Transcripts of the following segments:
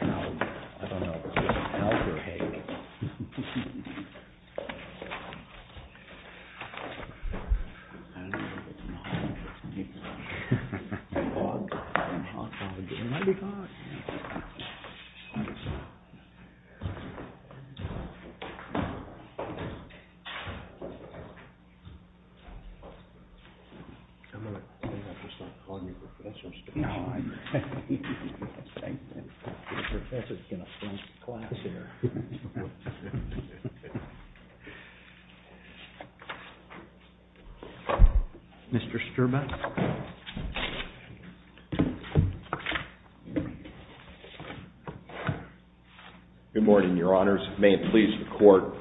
No, I don't know if it's an elk or a hake. I don't know if it's an elk or a hake. It's a hog. A hog probably. It might be a hog. I'm going to have to start calling you a professional speaker. No, I'm a professor in a French class here. Mr. Sturbeck. Good morning, your honors. May it please the court.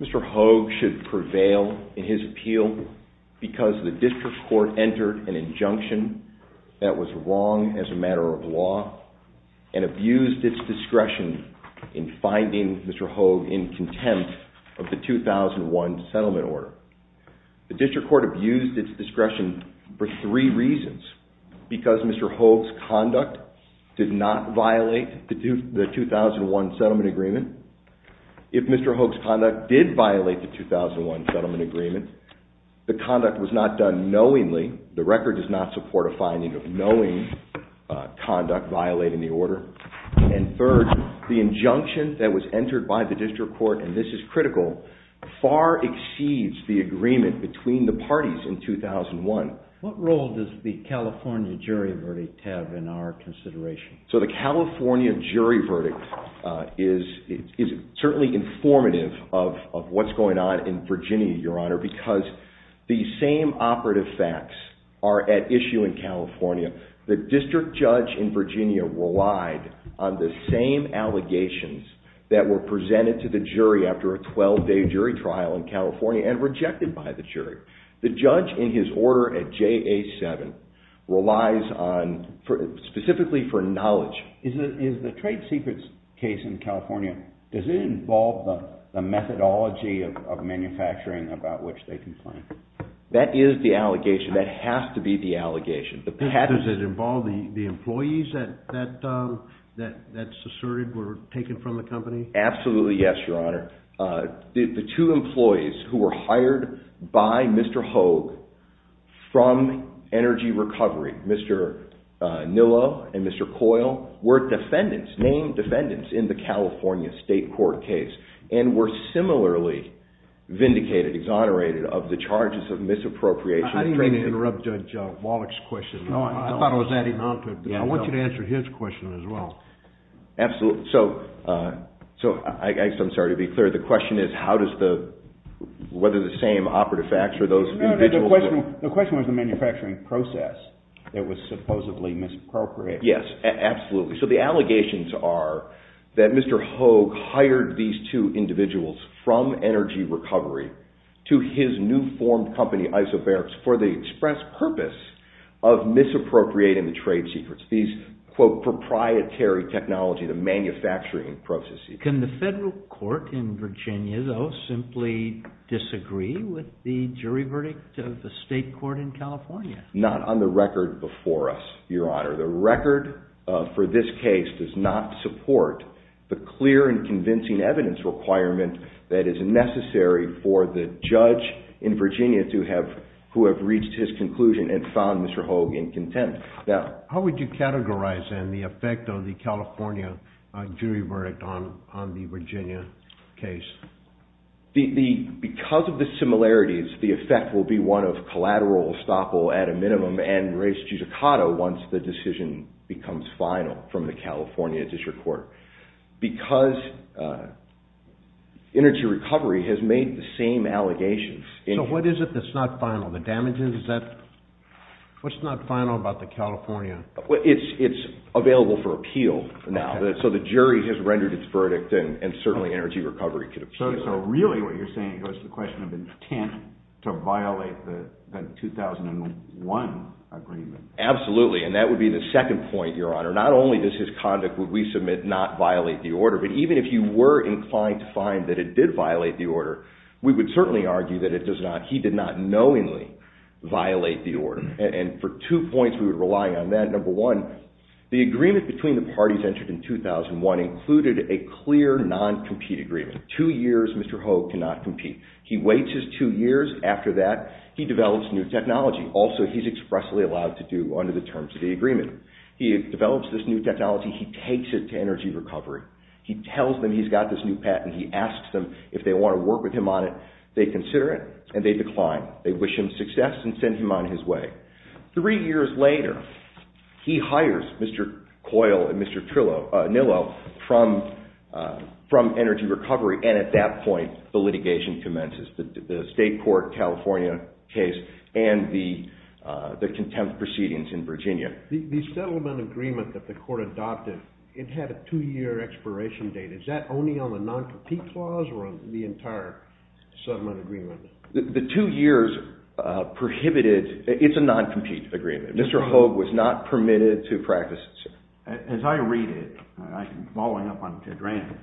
Mr. Hauge should prevail in his appeal because the district court entered an injunction that was wrong as a matter of law and abused its discretion in finding Mr. Hauge in contempt of the 2001 settlement order. The district court abused its discretion for three reasons. Because Mr. Hauge's conduct did not violate the 2001 settlement agreement. If Mr. Hauge's conduct did violate the 2001 settlement agreement, the conduct was not done knowingly. The record does not support a finding of knowing conduct violating the order. And third, the injunction that was entered by the district court, and this is critical, far exceeds the agreement between the parties in 2001. What role does the California jury verdict have in our consideration? So the California jury verdict is certainly informative of what's going on in Virginia, your honor, because the same operative facts are at issue in California. The district judge in Virginia relied on the same allegations that were presented to the jury after a 12-day jury trial in California and rejected by the jury. The judge in his order at JA-7 relies on, specifically for knowledge. Is the trade secrets case in California, does it involve the methodology of manufacturing about which they complain? That is the allegation. That has to be the allegation. Does it involve the employees that's asserted were taken from the company? Absolutely yes, your honor. The two employees who were hired by Mr. Hauge from Energy Recovery, Mr. Nillo and Mr. Coyle, were defendants, named defendants in the California state court case and were similarly vindicated, exonerated of the charges of misappropriation. I didn't mean to interrupt Judge Wallach's question. I thought I was adding on to it. I want you to answer his question as well. Absolutely. I'm sorry to be clear. The question is whether the same operative facts or those individuals... The question was the manufacturing process that was supposedly misappropriated. Yes, absolutely. So the allegations are that Mr. Hauge hired these two individuals from Energy Recovery to his new formed company, Isobarics, for the express purpose of misappropriating the trade secrets. These, quote, proprietary technology, the manufacturing processes. Can the federal court in Virginia, though, simply disagree with the jury verdict of the state court in California? Not on the record before us, Your Honor. The record for this case does not support the clear and convincing evidence requirement that is necessary for the judge in Virginia who have reached his conclusion and found Mr. Hauge incontent. Now, how would you categorize the effect of the California jury verdict on the Virginia case? Because of the similarities, the effect will be one of collateral estoppel at a minimum and res judicata once the decision becomes final from the California district court. Because Energy Recovery has made the same allegations... So what is it that's not final? The damages? What's not final about the California... It's available for appeal now. So the jury has rendered its verdict and certainly Energy Recovery could appeal. So really what you're saying goes to the question of intent to violate the 2001 agreement. Absolutely, and that would be the second point, Your Honor. Not only does his conduct, would we submit, not violate the order, but even if you were inclined to find that it did violate the order, we would certainly argue that it does not. He did not knowingly violate the order. And for two points, we would rely on that. Number one, the agreement between the parties entered in 2001 included a clear non-compete agreement. Two years, Mr. Hauge cannot compete. He waits his two years. After that, he develops new technology. Also, he's expressly allowed to do under the terms of the agreement. He develops this new technology. He takes it to Energy Recovery. He tells them he's got this new patent. He asks them if they want to work with him on it. They consider it, and they decline. They wish him success and send him on his way. Three years later, he hires Mr. Coyle and Mr. Nillo from Energy Recovery, and at that point, the litigation commences, the state court California case and the contempt proceedings in Virginia. The settlement agreement that the court adopted, it had a two-year expiration date. Is that only on the non-compete clause or on the entire settlement agreement? The two years prohibited... It's a non-compete agreement. Mr. Hauge was not permitted to practice it, sir. As I read it, following up on Ted Rand,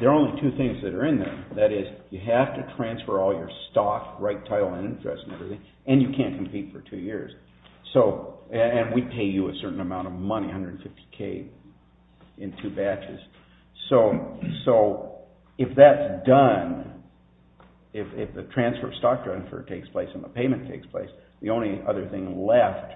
there are only two things that are in there. That is, you have to transfer all your stock, right title, and interest, and everything, and you can't compete for two years. And we pay you a certain amount of money, $150K in two batches. So if that's done, if the transfer of stock transfer takes place and the payment takes place, the only other thing left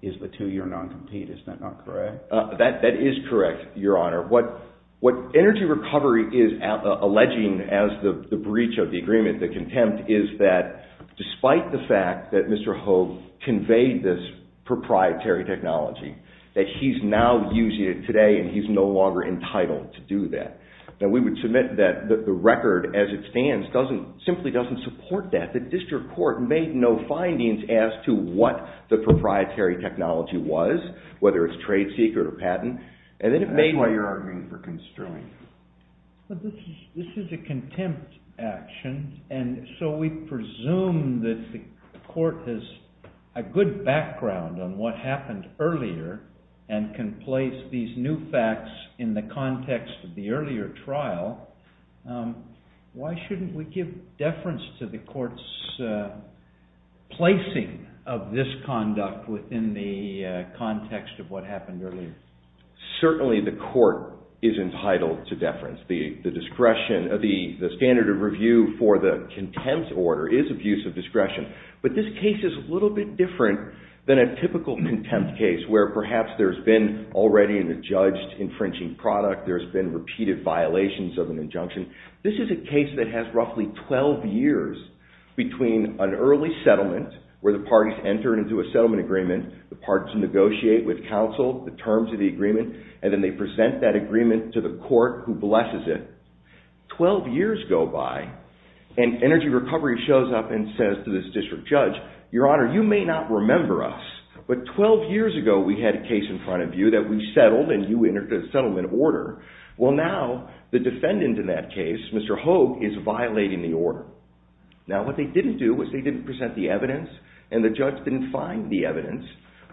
is the two-year non-compete. Is that not correct? That is correct, Your Honor. What Energy Recovery is alleging as the breach of the agreement, the contempt, is that despite the fact that Mr. Hauge conveyed this proprietary technology, that he's now using it today and he's no longer entitled to do that. We would submit that the record as it stands simply doesn't support that. The district court made no findings as to what the proprietary technology was, whether it's trade secret or patent. That's why you're arguing for constraint. But this is a contempt action, and so we presume that the court has a good background on what happened earlier and can place these new facts in the context of the earlier trial. Why shouldn't we give deference to the court's placing of this conduct within the context of what happened earlier? Certainly the court is entitled to deference. The standard of review for the contempt order is abuse of discretion, but this case is a little bit different than a typical contempt case where perhaps there's been already an adjudged infringing product, there's been repeated violations of an injunction. This is a case that has roughly 12 years between an early settlement where the parties enter into a settlement agreement, the parties negotiate with counsel the terms of the agreement, and then they present that agreement to the court who blesses it. Twelve years go by, and Energy Recovery shows up and says to this district judge, Your Honor, you may not remember us, but 12 years ago we had a case in front of you that we settled and you entered a settlement order. Well now, the defendant in that case, Mr. Hogue, is violating the order. Now what they didn't do was find the evidence, and the judge didn't find the evidence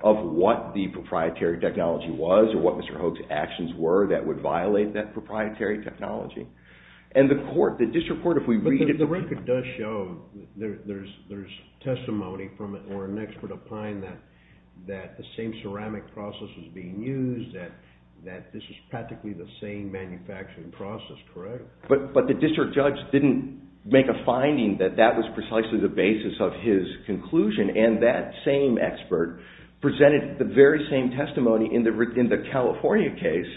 of what the proprietary technology was or what Mr. Hogue's actions were that would violate that proprietary technology. And the court, the district court, if we read it... But the record does show there's testimony from it or an expert opine that the same ceramic process was being used, that this was practically the same manufacturing process, correct? But the district judge didn't make a finding that that was precisely the basis of his conclusion. And that same expert presented the very same testimony in the California case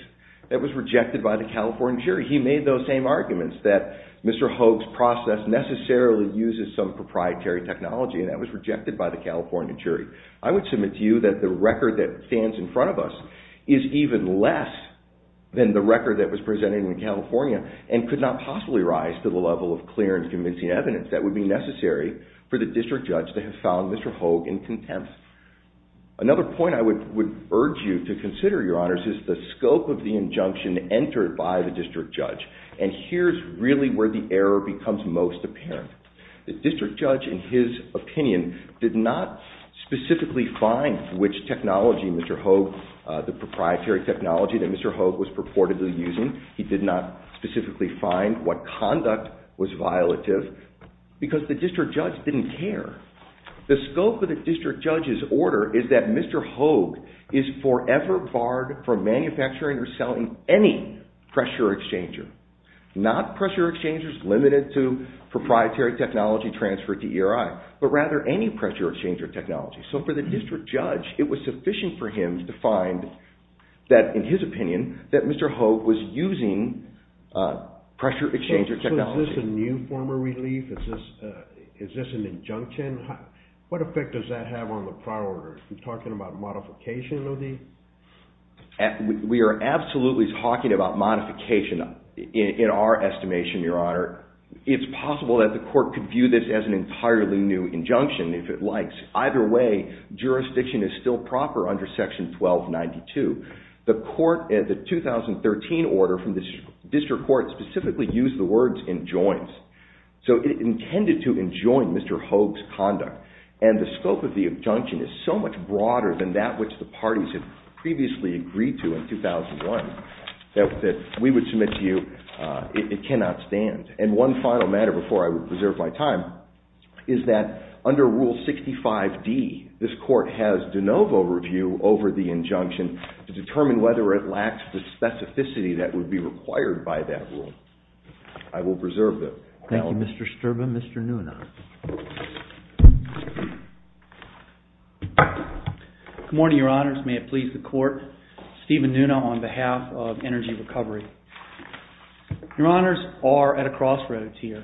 that was rejected by the California jury. He made those same arguments that Mr. Hogue's process necessarily uses some proprietary technology and that was rejected by the California jury. I would submit to you that the record that stands in front of us is even less than the record that was presented in California and could not possibly rise to the level of clear and convincing evidence that would be necessary for the district judge to have found Mr. Hogue in contempt. Another point I would urge you to consider, Your Honors, is the scope of the injunction entered by the district judge. And here's really where the error becomes most apparent. The district judge, in his opinion, did not specifically find which technology Mr. Hogue... the proprietary technology that Mr. Hogue was purportedly using. He did not specifically find what conduct was violative because the district judge didn't care. The scope of the district judge's order is that Mr. Hogue is forever barred from manufacturing or selling any pressure exchanger. Not pressure exchangers limited to proprietary technology transferred to ERI, but rather any pressure exchanger technology. So for the district judge, it was sufficient for him to find that, in his opinion, that Mr. Hogue was using pressure exchanger technology. So is this a new form of relief? Is this an injunction? What effect does that have on the prior order? Are you talking about modification, Lody? We are absolutely talking about modification in our estimation, Your Honor. It's possible that the court could view this as an entirely new injunction, if it likes. Either way, jurisdiction is still proper under Section 1292. The court, the 2013 order from the district court, specifically used the words, enjoins. So it intended to enjoin Mr. Hogue's conduct. And the scope of the injunction is so much broader than that which the parties had previously agreed to in 2001 that we would submit to you it cannot stand. And one final matter, before I preserve my time, is that under Rule 65D, this court has de novo review over the injunction to determine whether it lacks the specificity that would be required by that rule. I will preserve the time. Thank you, Mr. Sterba. Mr. Nuna. Good morning, Your Honors. May it please the court. Steven Nuna on behalf of Energy Recovery. Your Honors are at a crossroads here.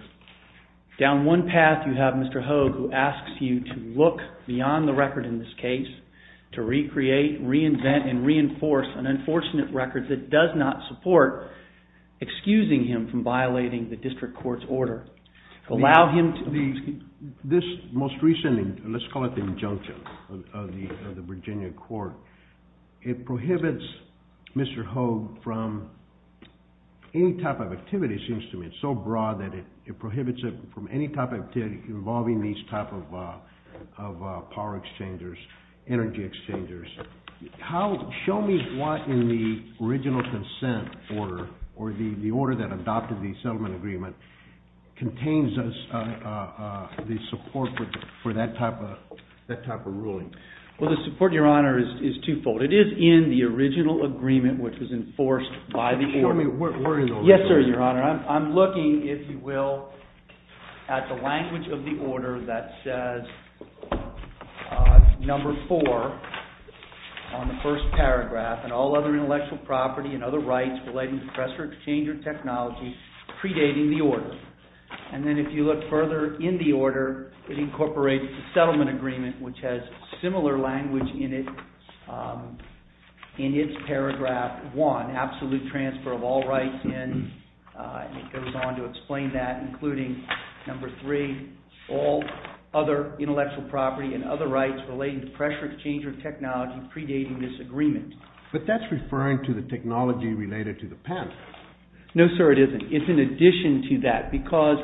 Down one path you have Mr. Hogue who asks you to look beyond the record in this case to recreate, reinvent, and reinforce an unfortunate record that does not support excusing him from violating the district court's order. Allow him to... This most recent, let's call it the injunction of the Virginia court, it prohibits Mr. Hogue from any type of activity, seems to me, so broad that it prohibits him from any type of activity involving these type of power exchangers, energy exchangers. Show me what in the original consent order or the order that adopted the settlement agreement contains the support for that type of ruling. Well, the support, Your Honor, is twofold. It is in the original agreement which was enforced by the order. Show me where in those... Yes, sir, Your Honor. I'm looking, if you will, at the language of the order that says, number four, on the first paragraph, and all other intellectual property and other rights relating to pressure exchanger technology predating the order. And then if you look further in the order, it incorporates the settlement agreement which has similar language in it in its paragraph one, absolute transfer of all rights in, and it goes on to explain that, including number three, all other intellectual property and other rights relating to pressure exchanger technology predating this agreement. But that's referring to the technology related to the patent. No, sir, it isn't. It's in addition to that because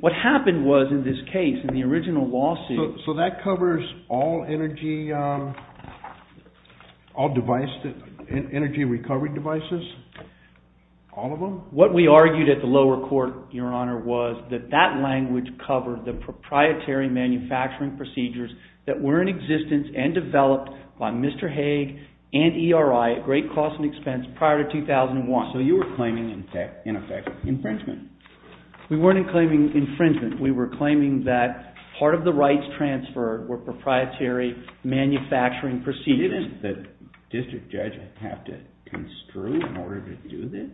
what happened was, in this case, in the original lawsuit... So that covers all energy... all device... energy recovery devices? All of them? What we argued at the lower court, Your Honor, was that that language covered the proprietary manufacturing procedures that were in existence and developed by Mr. Haig and ERI at great cost and expense prior to 2001. So you were claiming, in effect, infringement? We weren't claiming infringement. We were claiming that part of the rights transferred were proprietary manufacturing procedures. Didn't the district judge have to construe in order to do this?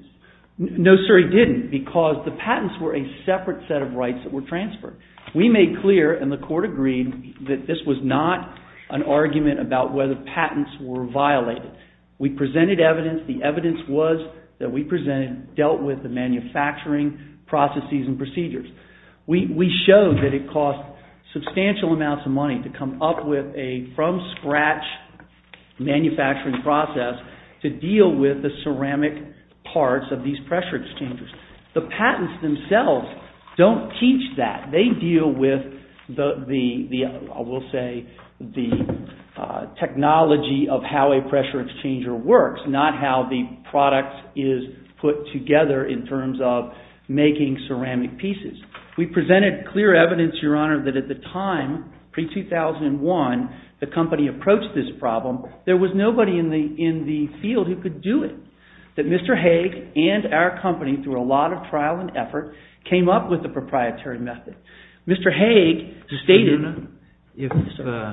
No, sir, he didn't because the patents were a separate set of rights that were transferred. We made clear, and the court agreed, that this was not an argument about whether patents were violated. We presented evidence. The evidence was that we presented dealt with the manufacturing processes and procedures. We showed that it cost substantial amounts of money to come up with a from scratch manufacturing process to deal with the ceramic parts of these pressure exchangers. The patents themselves don't teach that. They deal with the, I will say, the technology of how a pressure exchanger works, not how the product is put together in terms of making ceramic pieces. We presented clear evidence, Your Honor, that at the time, pre-2001, the company approached this problem, there was nobody in the field who could do it. That Mr. Haig and our company, through a lot of trial and effort, came up with a proprietary method. Mr. Haig stated... Mr. Luna, if,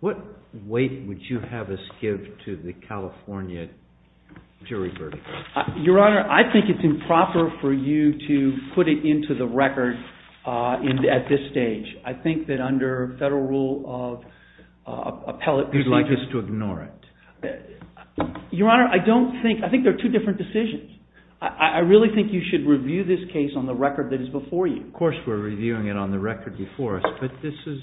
what weight would you have us give to the California jury verdict? Your Honor, I think it's improper for you to put it into the record at this stage. I think that under federal rule of appellate... You'd like us to ignore it? Your Honor, I don't think, I think they're two different decisions. I really think you should review this case on the record that is before you. Of course we're reviewing it on the record before us, but this is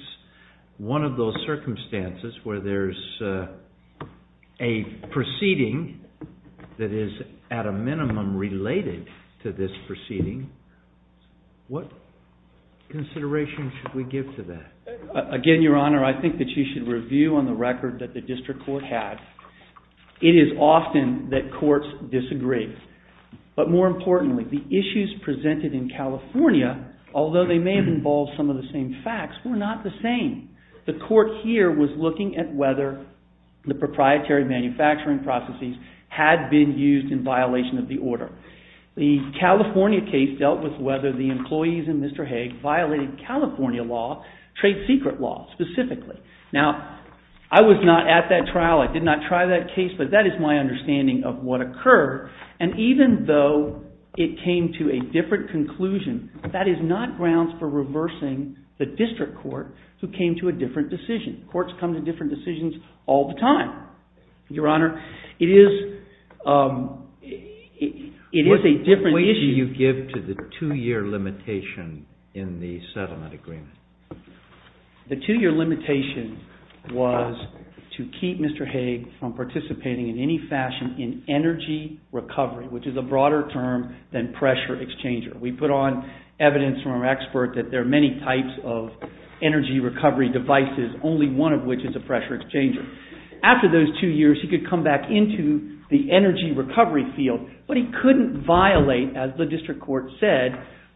one of those circumstances where there's a proceeding that is at a minimum related to this proceeding. What consideration should we give to that? Again, Your Honor, I think that you should review on the record that the district court had. It is often that courts disagree. But more importantly, the issues presented in California, although they may have all some of the same facts, were not the same. The court here was looking at whether the proprietary manufacturing processes had been used in violation of the order. The California case dealt with whether the employees in Mr. Hague violated California law, trade secret law, specifically. Now, I was not at that trial. I did not try that case, but that is my understanding of what occurred. And even though it came to a different conclusion, that is not grounds for reversing the district court who came to a different decision. Courts come to different decisions all the time. Your Honor, it is a different issue. What weight do you give to the two-year limitation in the settlement agreement? The two-year limitation was to keep Mr. Hague from participating in any fashion in energy recovery, which is a broader term than pressure exchanger. We put on evidence from our expert that there are many types of energy recovery devices, only one of which is a pressure exchanger. After those two years, he could come back into the energy recovery field, but he couldn't violate, as the district court said,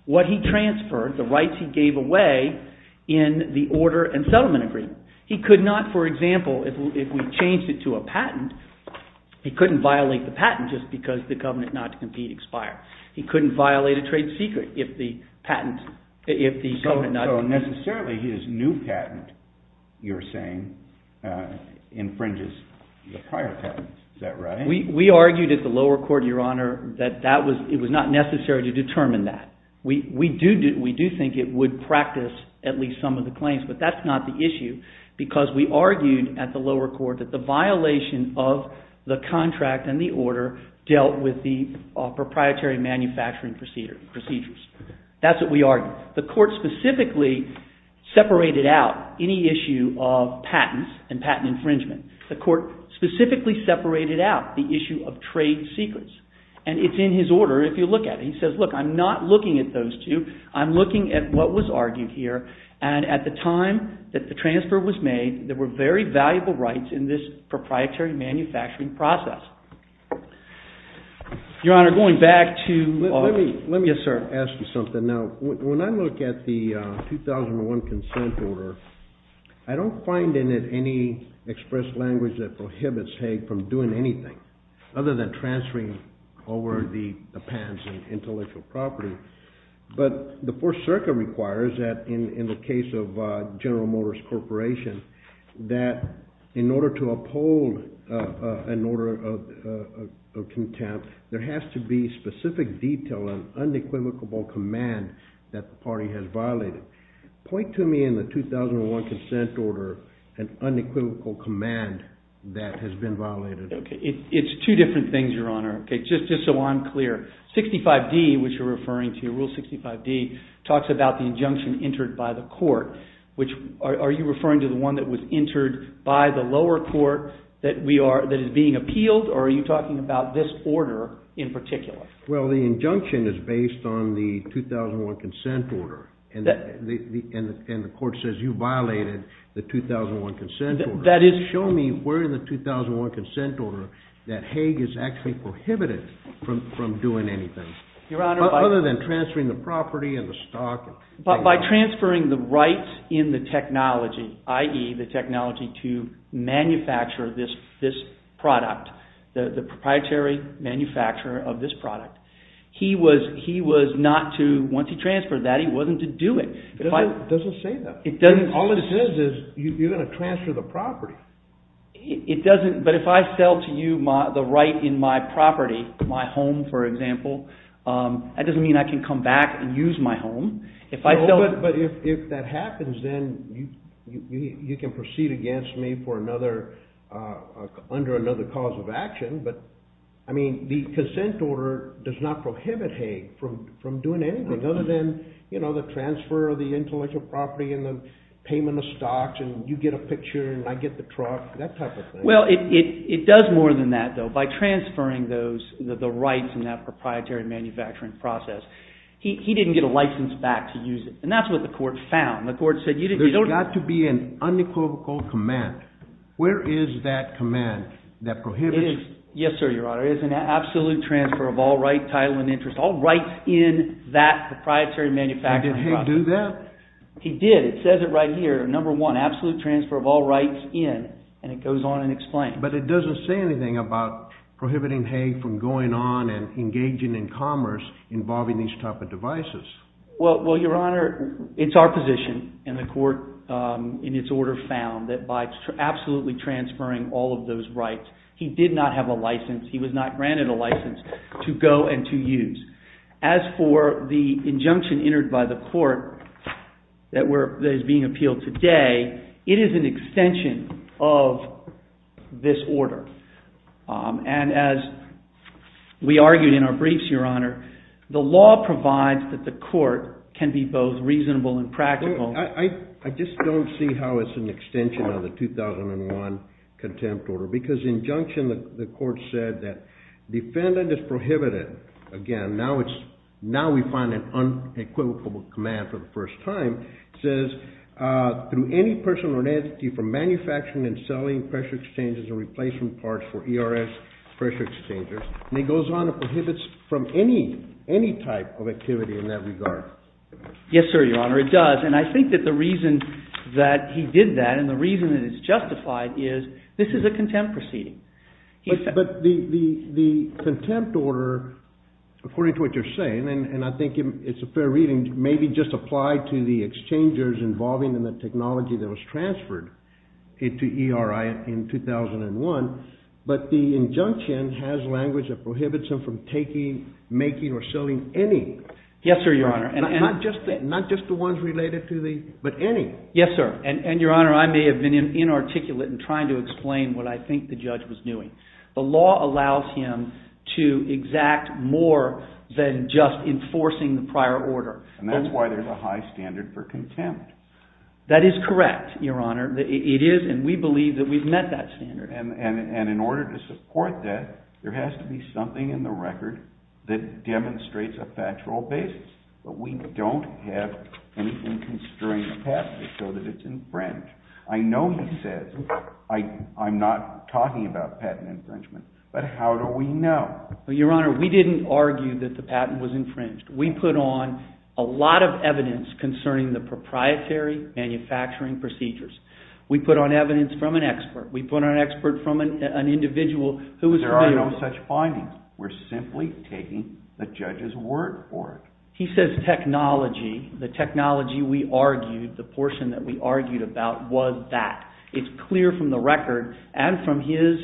what he transferred, the rights he gave away, in the order and settlement agreement. He could not, for example, if we changed it to a patent, he couldn't violate the patent just because the covenant not to compete expired. He couldn't violate a trade secret if the patent, if the covenant not to compete. So necessarily, his new patent, you're saying, infringes the prior patent. Is that right? We argued at the lower court, Your Honor, that it was not necessary to determine that. We do think it would practice at least some of the claims, but that's not the issue because we argued at the lower court that the violation of the contract and the order dealt with the proprietary manufacturing procedures. That's what we argued. The court specifically separated out any issue of patents and patent infringement. The court specifically separated out the issue of trade secrets, and it's in his order if you look at it. He says, look, I'm not looking at those two. I'm looking at what was argued here, and at the time that the transfer was made, there were very valuable rights in this proprietary manufacturing process. Your Honor, going back to... Now, when I look at the 2001 consent order, I don't find in it any express language that prohibits Hague from doing anything other than transferring over the patents and intellectual property, but the Fourth Circuit requires that in the case of General Motors Corporation that in order to uphold an order of contempt, there has to be specific detail and unequivocal command that the party has violated. Point to me in the 2001 consent order an unequivocal command that has been violated. It's two different things, Your Honor, just so I'm clear. 65D, which you're referring to, Rule 65D, talks about the injunction entered by the court, which, are you referring to the one that was entered by the lower court that is being appealed, or are you talking about this order in particular? Well, the injunction is based on the 2001 consent order, and the court says you violated the 2001 consent order. Show me where in the 2001 consent order that Hague is actually prohibited from doing anything other than transferring the property and the stock. By transferring the rights in the technology, i.e., the technology to manufacture this product, the proprietary manufacturer of this product, he was not to, once he transferred that, he wasn't to do it. It doesn't say that. It doesn't. All it says is you're going to transfer the property. It doesn't, but if I sell to you the right in my property, my home, for example, that doesn't mean I can come back and use my home. But if that happens, then you can proceed against me for another, under another cause of action, but, I mean, the consent order does not prohibit Hague from doing anything other than, you know, the transfer of the intellectual property and the payment of stocks and you get a picture and I get the truck, that type of thing. Well, it does more than that, though. By transferring those, the rights in that proprietary manufacturing process, he didn't get a license back to use it, and that's what the court found. The court said, you don't... There's got to be an unequivocal command. Where is that command that prohibits... It is... Yes, sir, Your Honor. It is an absolute transfer of all right, title, and interest, all rights in that proprietary manufacturing process. Did Hague do that? He did. It says it right here, number one, absolute transfer of all rights in, and it goes on and explains. But it doesn't say anything about prohibiting Hague from going on and engaging in commerce involving these type of devices. Well, Your Honor, it's our position, and the court, in its order, found that by absolutely transferring all of those rights, he did not have a license, he was not granted a license to go and to use. As for the injunction entered by the court that is being appealed today, it is an extension of this order. And as we argued in our briefs, Your Honor, the law provides that the court can be both reasonable and practical. I just don't see how it's an extension of the 2001 contempt order. Because injunction, the court said that defendant is prohibited. Again, now it's, now we find an unequivocal command for the first time. It says, through any person or entity from manufacturing and selling pressure exchangers or replacing parts for ERS pressure exchangers. And it goes on and prohibits from any, any type of activity in that regard. Yes, sir, Your Honor, it does. And I think that the reason that he did that and the reason that it's justified is this is a contempt proceeding. But the contempt order, according to what you're saying, and I think it's a fair reading, may be just applied to the exchangers involving in the technology that was transferred into ERI in 2001. But the injunction has language that prohibits him from taking, making, or selling any. Yes, sir, Your Honor. Not just the ones related to the, but any. Yes, sir. And, Your Honor, I may have been inarticulate in trying to explain what I think the judge was doing. The law allows him to exact more than just enforcing the prior order. And that's why there's a high standard for contempt. That is correct, Your Honor. It is, and we believe that we've met that standard. And in order to support that, there has to be something in the record that demonstrates a factual basis. But we don't have anything constrained in the patent so that it's infringed. I know he says, I'm not talking about patent infringement, but how do we know? Well, Your Honor, we didn't argue that the patent was infringed. We put on a lot of evidence concerning the proprietary manufacturing procedures. We put on evidence from an expert. We put on an expert from an individual who was available. There are no such findings. We're simply taking the judge's word for it. He says technology, the technology we argued about was that. It's clear from the record and from his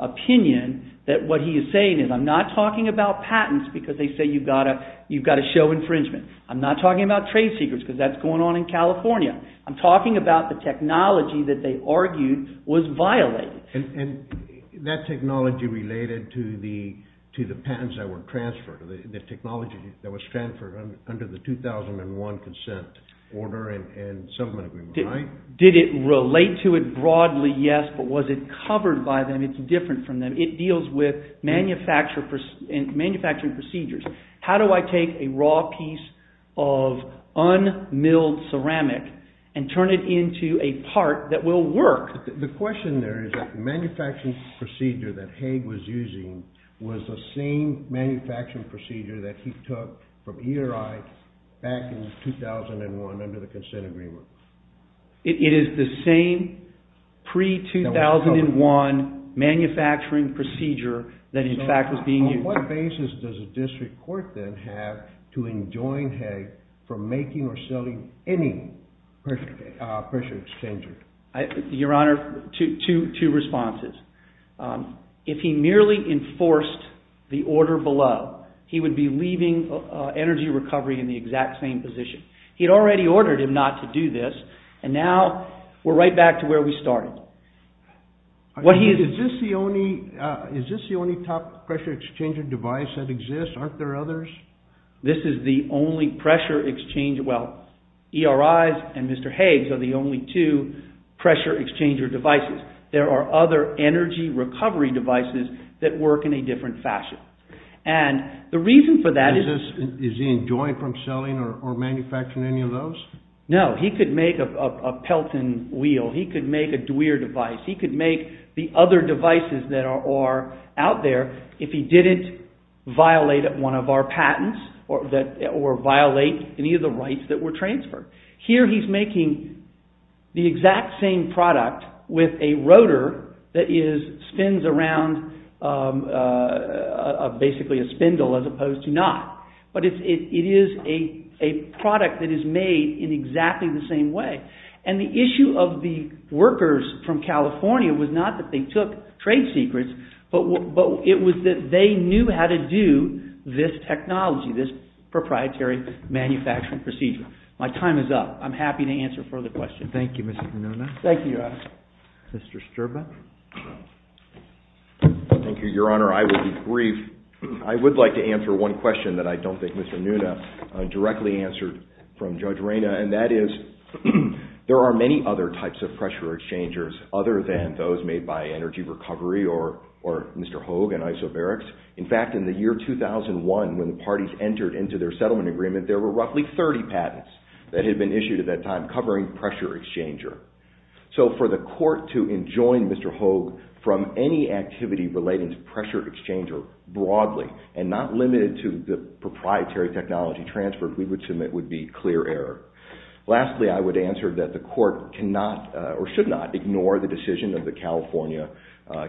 opinion that what he is saying is, I'm not talking about patents because they say you've got to show infringement. I'm not talking about trade secrets because that's going on in California. I'm talking about the technology that they argued was violated. And that technology related to the patents that were transferred, the technology that was transferred under the 2001 consent order and settlement agreement. Did it relate to it broadly? Yes. But was it covered by them? It's different from them. It deals with manufacturing procedures. How do I take a raw piece of un-milled ceramic and turn it into a part that will work? The question there is that the manufacturing procedure that Haig was using was the same manufacturing procedure that he took from ERI back in 2001 under the consent agreement. It is the same pre-2001 manufacturing procedure that in fact was being used. On what basis does a district court then have to enjoin Haig from making or selling any pressure exchanger? Your Honor, two responses. If he merely enforced the order below, he would be leaving energy recovery in the exact same position. He had already ordered him not to do this and now we're right back to where we started. Is this the only top pressure exchanger device that exists? Aren't there others? This is the only pressure exchange... Well, ERI's and Mr. Haig's are the only two pressure exchanger devices. There are other energy recovery devices that work in a different fashion. And the reason for that is... Is he enjoined from selling or manufacturing any of those? No, he could make a Pelton wheel. He could make a DeWeer device. He could make the other devices that are out there if he didn't violate one of our patents or violate any of the rights that were transferred. Here he's making the exact same product with a rotor that spins around basically a spindle as opposed to not. But it is a product that is made in exactly the same way. And the issue of the workers from California was not that they took trade secrets, but it was that they knew how to do this technology, this proprietary manufacturing procedure. My time is up. I'm happy to answer further questions. Thank you, Mr. Pinona. Thank you, Your Honor. Mr. Sterba. Thank you, Your Honor. I will be brief. I would like to answer one question that I don't think Mr. Nunez directly answered from Judge Reyna, and that is there are many other types of pressure exchangers other than those made by Energy Recovery or Mr. Hogue and Isoberics. In fact, in the year 2001 when the parties entered into their settlement agreement, there were roughly 30 patents that had been issued at that time covering pressure exchanger. So for the court to enjoin Mr. Hogue from any activity relating to pressure exchanger broadly and not limited to the proprietary technology transfer we would submit would be clear error. Lastly, I would answer that the court cannot or should not ignore the decision of the California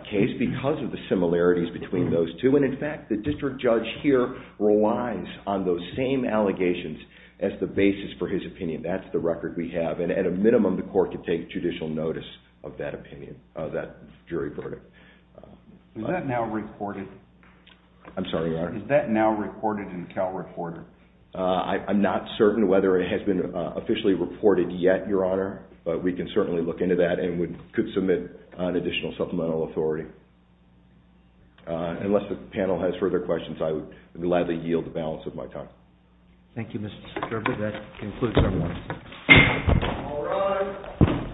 case because of the similarities between those two and in fact the district judge here relies on those same allegations as the basis for his opinion. That's the record we have and at a minimum the court can take judicial notice of that opinion, of that jury verdict. Is that now recorded? I'm sorry, Your Honor. Is that now recorded in Cal Reporter? I'm not certain whether it has been officially reported yet, Your Honor, but we can certainly look into that and could submit an additional supplemental authority. Unless the panel has further questions, I would gladly yield the balance of my time. Thank you, Mr. Skirby. That concludes our meeting. All rise.